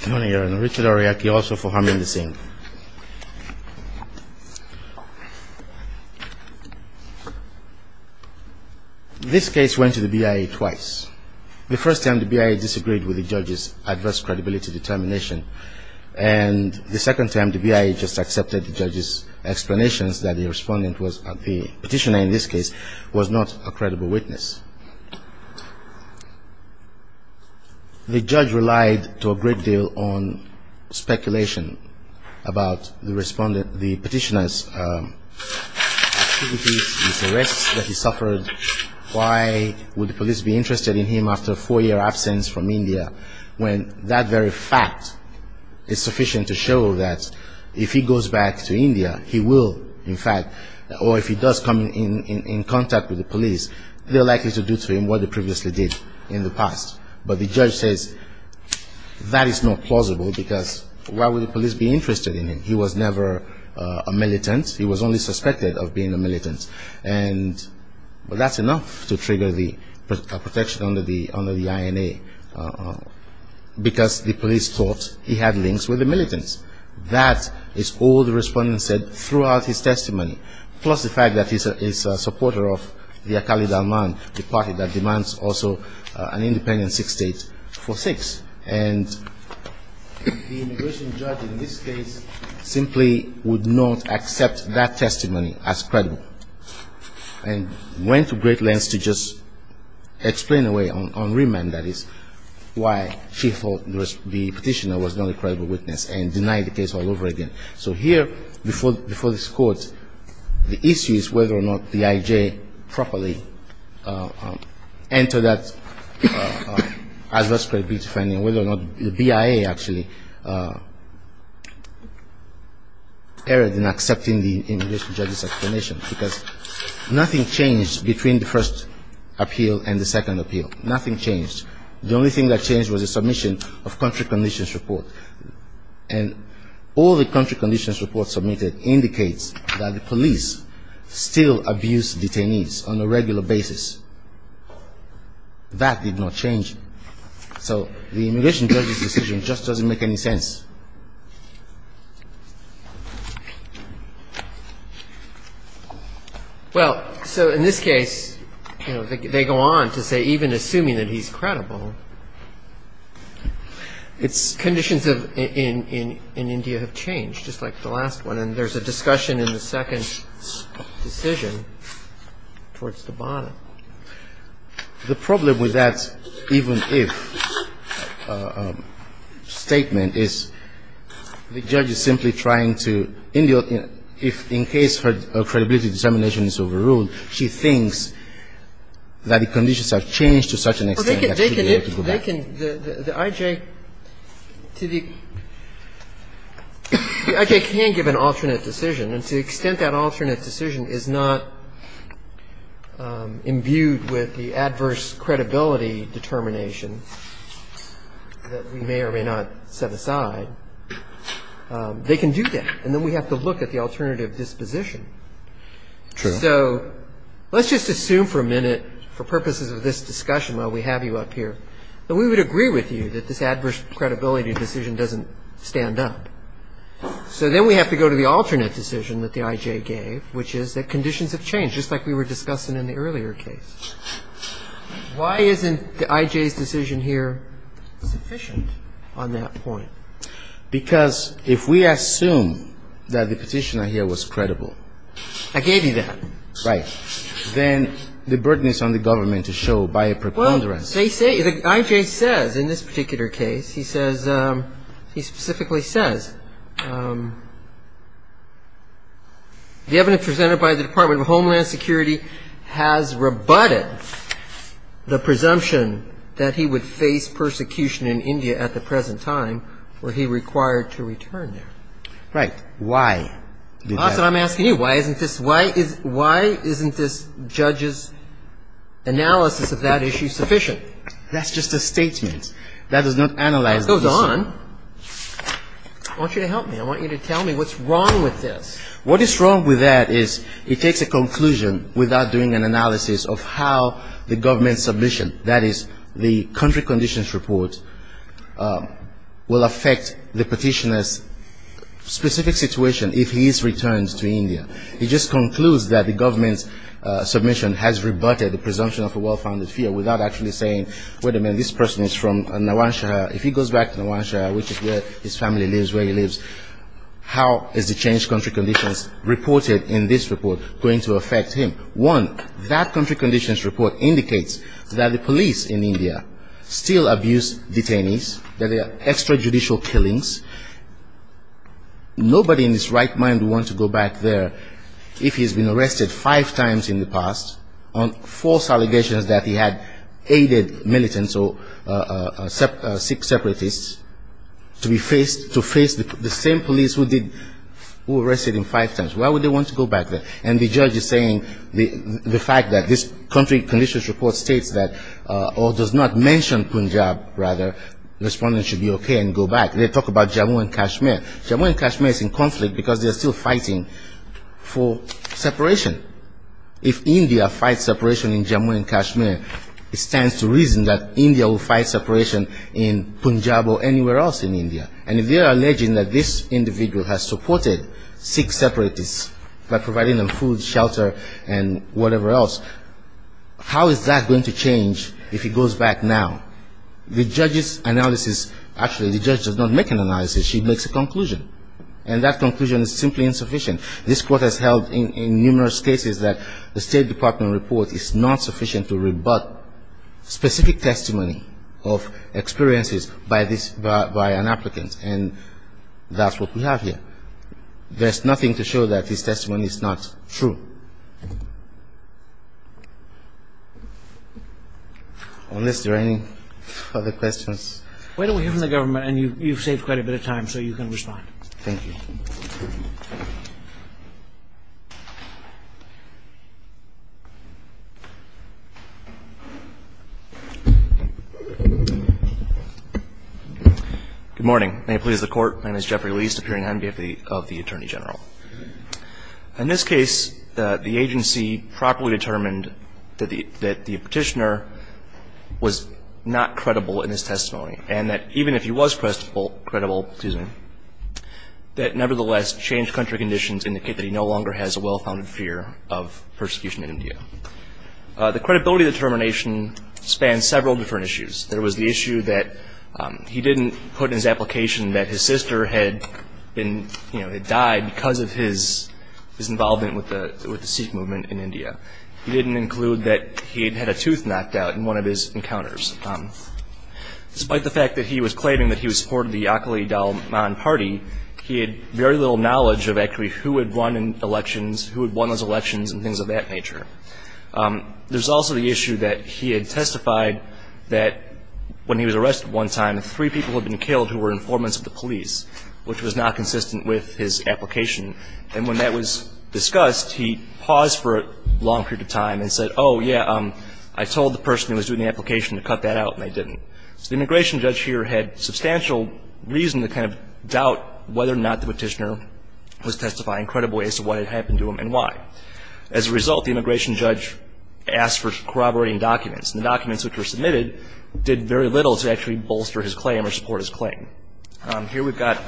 Good morning Your Honor. Richard Aroyeke also for Harmony Singh. This case went to the BIA twice. The first time the BIA disagreed with the judge's adverse credibility determination. And the second time the BIA just accepted the judge's explanations that the respondent, the petitioner in this case, was not a credible witness. The judge relied to a great deal on speculation about the respondent, the petitioner's activities, his arrests that he suffered. Why would the police be interested in him after a four-year absence from India when that very fact is sufficient to show that if he goes back to India, he will, in fact, or if he does come in contact with the police, they're likely to do to him what they previously did in the past. But the judge says that is not plausible because why would the police be interested in him? He was never a militant. He was only suspected of being a militant. And that's enough to trigger the protection under the INA because the police thought he had links with the militants. That is all the respondent said throughout his testimony, plus the fact that he's a supporter of the party that demands also an independent six states for six. And the immigration judge in this case simply would not accept that testimony as credible. And went to great lengths to just explain away on remand, that is, why she thought the petitioner was not a credible witness and denied the case all over again. So here, before this court, the issue is whether or not the IJ properly entered that adverse credibility finding, whether or not the BIA actually erred in accepting the immigration judge's explanation. Because nothing changed between the first appeal and the second appeal. Nothing changed. The only thing that changed was the submission of country conditions report. And all the country conditions report submitted indicates that the police still abuse detainees on a regular basis. That did not change. So the immigration judge's decision just doesn't make any sense. Well, so in this case, they go on to say even assuming that he's credible, conditions in India have changed, just like the last one. And then there's a discussion in the second decision towards the bottom. The problem with that even if statement is the judge is simply trying to, in case her credibility determination is overruled, she thinks that the conditions have changed to such an extent that she'd be able to go back. But they can, the IJ, the IJ can give an alternate decision. And to the extent that alternate decision is not imbued with the adverse credibility determination that we may or may not set aside, they can do that. And then we have to look at the alternative disposition. True. And so let's just assume for a minute, for purposes of this discussion while we have you up here, that we would agree with you that this adverse credibility decision doesn't stand up. So then we have to go to the alternate decision that the IJ gave, which is that conditions have changed, just like we were discussing in the earlier case. Why isn't the IJ's decision here sufficient on that point? Because if we assume that the petitioner here was credible. I gave you that. Right. Then the burden is on the government to show by a preponderance. Well, they say, the IJ says in this particular case, he says, he specifically says the evidence presented by the Department of Homeland Security has rebutted the presumption that he would face persecution in India at the present time were he required to return there. Right. Why? That's what I'm asking you. Why isn't this judge's analysis of that issue sufficient? That's just a statement. That is not analysis. That goes on. I want you to help me. I want you to tell me what's wrong with this. What is wrong with that is it takes a conclusion without doing an analysis of how the government's submission, that is the country conditions report, will affect the petitioner's specific situation if he is returned to India. It just concludes that the government's submission has rebutted the presumption of a well-founded fear without actually saying, wait a minute, this person is from Nawanshah. If he goes back to Nawanshah, which is where his family lives, where he lives, how is the changed country conditions reported in this report going to affect him? One, that country conditions report indicates that the police in India still abuse detainees. There are extrajudicial killings. Nobody in his right mind would want to go back there if he's been arrested five times in the past on false allegations that he had aided militants or Sikh separatists to face the same police who arrested him five times. Why would they want to go back there? And the judge is saying the fact that this country conditions report states that or does not mention Punjab, rather, the respondent should be okay and go back. They talk about Jammu and Kashmir. Jammu and Kashmir is in conflict because they are still fighting for separation. If India fights separation in Jammu and Kashmir, it stands to reason that India will fight separation in Punjab or anywhere else in India. And if they are alleging that this individual has supported Sikh separatists by providing them food, shelter, and whatever else, how is that going to change if he goes back now? The judge's analysis, actually the judge does not make an analysis. She makes a conclusion. And that conclusion is simply insufficient. This court has held in numerous cases that the State Department report is not sufficient to rebut specific testimony of experiences by an applicant. And that's what we have here. There's nothing to show that this testimony is not true. Unless there are any other questions. Why don't we hear from the government? And you've saved quite a bit of time, so you can respond. Thank you. Good morning. May it please the Court. My name is Jeffrey Liest, appearing on behalf of the Attorney General. In this case, the agency properly determined that the petitioner was not credible in his testimony. And that even if he was credible, that nevertheless changed country conditions indicating that he no longer has a well-founded fear of persecution in India. The credibility determination spanned several different issues. There was the issue that he didn't put in his application that his sister had been, you know, had died because of his involvement with the Sikh movement in India. He didn't include that he had had a tooth knocked out in one of his encounters. Despite the fact that he was claiming that he was a supporter of the Akhili Dalman Party, he had very little knowledge of actually who had won elections, who had won those elections, and things of that nature. There's also the issue that he had testified that when he was arrested one time, three people had been killed who were informants of the police, which was not consistent with his application. And when that was discussed, he paused for a long period of time and said, oh, yeah, I told the person who was doing the application to cut that out, and they didn't. So the immigration judge here had substantial reason to kind of doubt whether or not the petitioner was testifying credibly as to what had happened to him and why. As a result, the immigration judge asked for corroborating documents, and the documents which were submitted did very little to actually bolster his claim or support his claim. Here we've got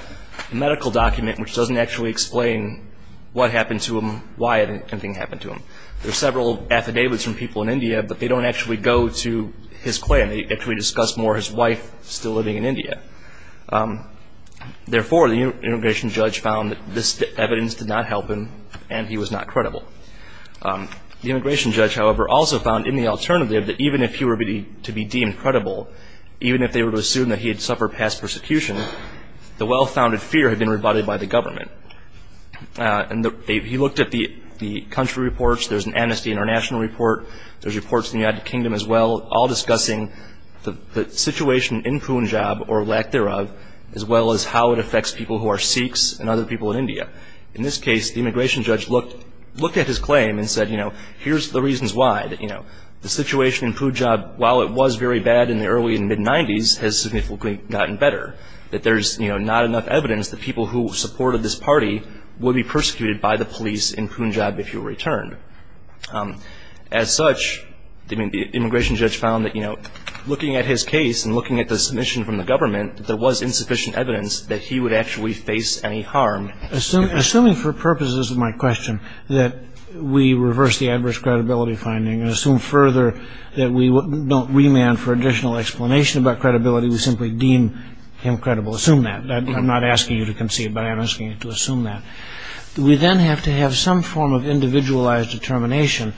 a medical document which doesn't actually explain what happened to him, why anything happened to him. There are several affidavits from people in India, but they don't actually go to his claim. They actually discuss more his wife still living in India. Therefore, the immigration judge found that this evidence did not help him, and he was not credible. The immigration judge, however, also found in the alternative that even if he were to be deemed credible, even if they were to assume that he had suffered past persecution, the well-founded fear had been rebutted by the government. And he looked at the country reports. There's an Amnesty International report. There's reports in the United Kingdom as well, all discussing the situation in Punjab, or lack thereof, as well as how it affects people who are Sikhs and other people in India. In this case, the immigration judge looked at his claim and said, you know, here's the reasons why. You know, the situation in Punjab, while it was very bad in the early and mid-'90s, has significantly gotten better, that there's, you know, not enough evidence that people who supported this party would be persecuted by the police in Punjab if he were returned. As such, the immigration judge found that, you know, looking at his case and looking at the submission from the government, there was insufficient evidence that he would actually face any harm. Assuming for purposes of my question that we reverse the adverse credibility finding and assume further that we don't remand for additional explanation about credibility, we simply deem him credible. Assume that. I'm not asking you to conceive, but I'm asking you to assume that. We then have to have some form of individualized determination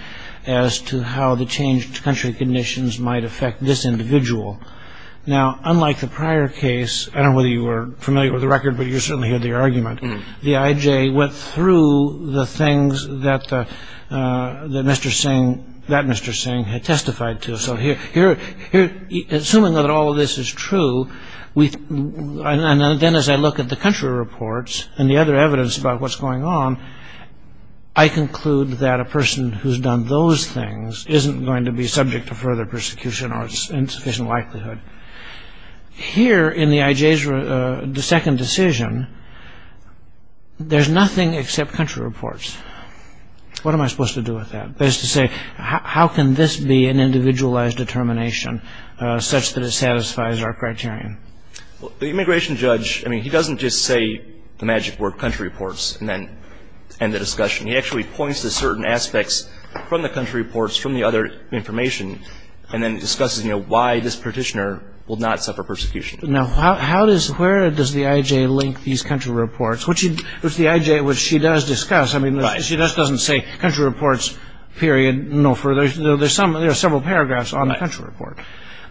as to how the changed country conditions might affect this individual. Now, unlike the prior case, I don't know whether you were familiar with the record, but you certainly heard the argument, the IJ went through the things that Mr. Singh, that Mr. Singh, had testified to. So here, assuming that all of this is true, and then as I look at the country reports and the other evidence about what's going on, I conclude that a person who's done those things isn't going to be subject to further persecution or its insufficient likelihood. Here in the IJ's second decision, there's nothing except country reports. What am I supposed to do with that? That is to say, how can this be an individualized determination such that it satisfies our criterion? The immigration judge, I mean, he doesn't just say the magic word country reports and then end the discussion. He actually points to certain aspects from the country reports, from the other information, and then discusses why this petitioner will not suffer persecution. Now, where does the IJ link these country reports, which the IJ, which she does discuss, I mean, she just doesn't say country reports, period, no further. There are several paragraphs on the country report,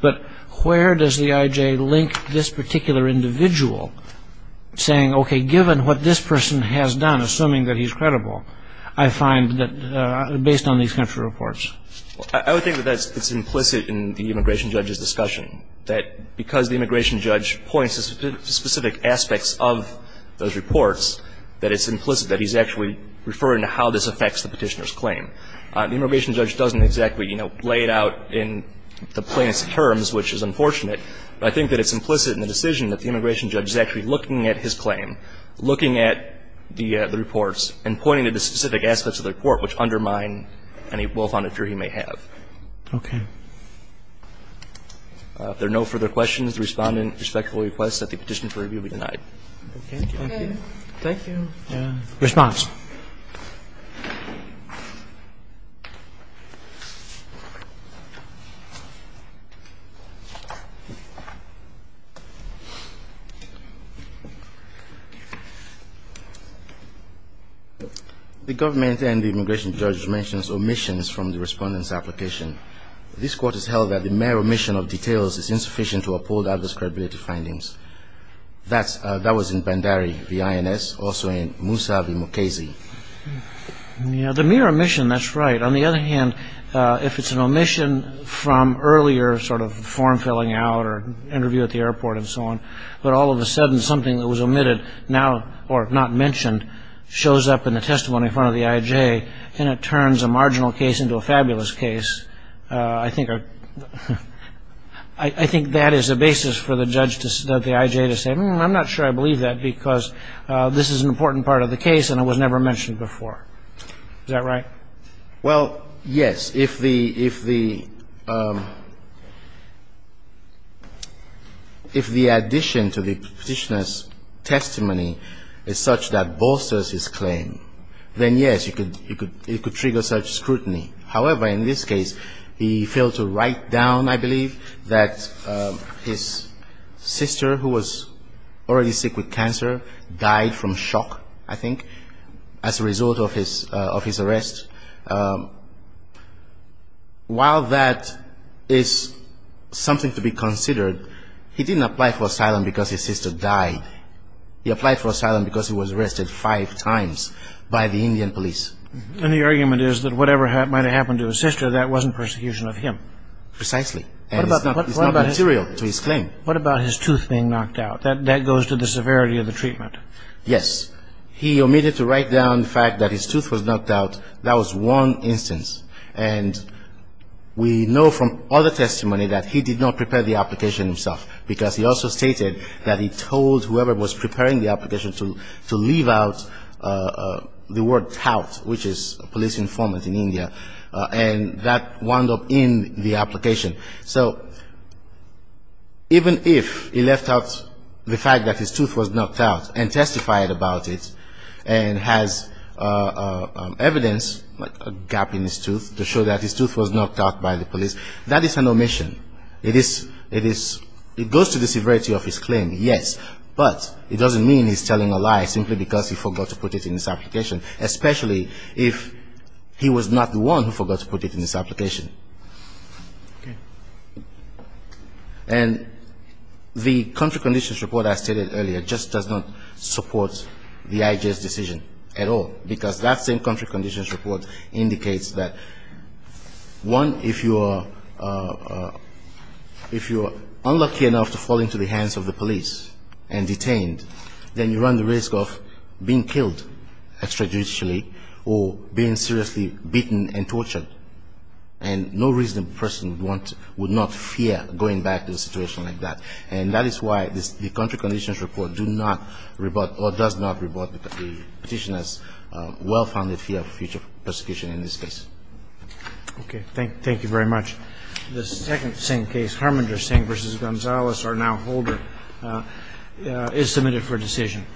but where does the IJ link this particular individual saying, okay, given what this person has done, assuming that he's credible, I find that based on these country reports? I would think that that's implicit in the immigration judge's discussion, that because the immigration judge points to specific aspects of those reports, that it's implicit that he's actually referring to how this affects the petitioner's claim. The immigration judge doesn't exactly, you know, lay it out in the plaintiff's terms, which is unfortunate, but I think that it's implicit in the decision that the immigration judge is actually looking at his claim, looking at the reports and pointing to the specific aspects of the report which undermine any well-founded jury he may have. Roberts. Okay. If there are no further questions, the Respondent respectfully requests that the petition for review be denied. Thank you. Thank you. Response. The government and the immigration judge mentions omissions from the Respondent's application. This court has held that the mere omission of details is insufficient to uphold others' credibility findings. That was in Bandari v. INS, also in Musab v. Mukasey. Yeah, the mere omission, that's right. On the other hand, if it's an omission from earlier sort of form-filling out or interview at the airport and so on, but all of a sudden something that was omitted now or not mentioned shows up in the testimony in front of the IJ and it turns a marginal case into a fabulous case, I think that is a basis for the judge to say I'm not sure I believe that because this is an important part of the case and it was never mentioned before. Is that right? Well, yes. If the addition to the petitioner's testimony is such that bolsters his claim, then yes, it could trigger such scrutiny. However, in this case, he failed to write down, I believe, that his sister who was already sick with cancer died from shock, I think, as a result of his arrest. While that is something to be considered, he didn't apply for asylum because his sister died. He applied for asylum because he was arrested five times by the Indian police. And the argument is that whatever might have happened to his sister, that wasn't persecution of him. Precisely. And it's not material to his claim. What about his tooth being knocked out? That goes to the severity of the treatment. Yes. He omitted to write down the fact that his tooth was knocked out. That was one instance. And we know from other testimony that he did not prepare the application himself because he also stated that he told whoever was preparing the application to leave out the word tout, which is a police informant in India, and that wound up in the application. So even if he left out the fact that his tooth was knocked out and testified about it and has evidence, like a gap in his tooth, to show that his tooth was knocked out by the police, that is an omission. It is goes to the severity of his claim, yes, but it doesn't mean he's telling a lie simply because he forgot to put it in his application, especially if he was not the one who forgot to put it in his application. Okay. And the country conditions report I stated earlier just does not support the IJ's decision at all, because that same country conditions report indicates that, one, if you are unlucky enough to fall into the hands of the police and detained, then you run the risk of being killed extrajudicially or being seriously beaten and tortured. And no reasonable person would not fear going back to a situation like that. And that is why the country conditions report do not rebut or does not rebut the Petitioner's well-founded fear of future persecution in this case. Okay. Thank you very much. The second Singh case, Harmander Singh v. Gonzales, our now holder, is submitted for decision. Thank you.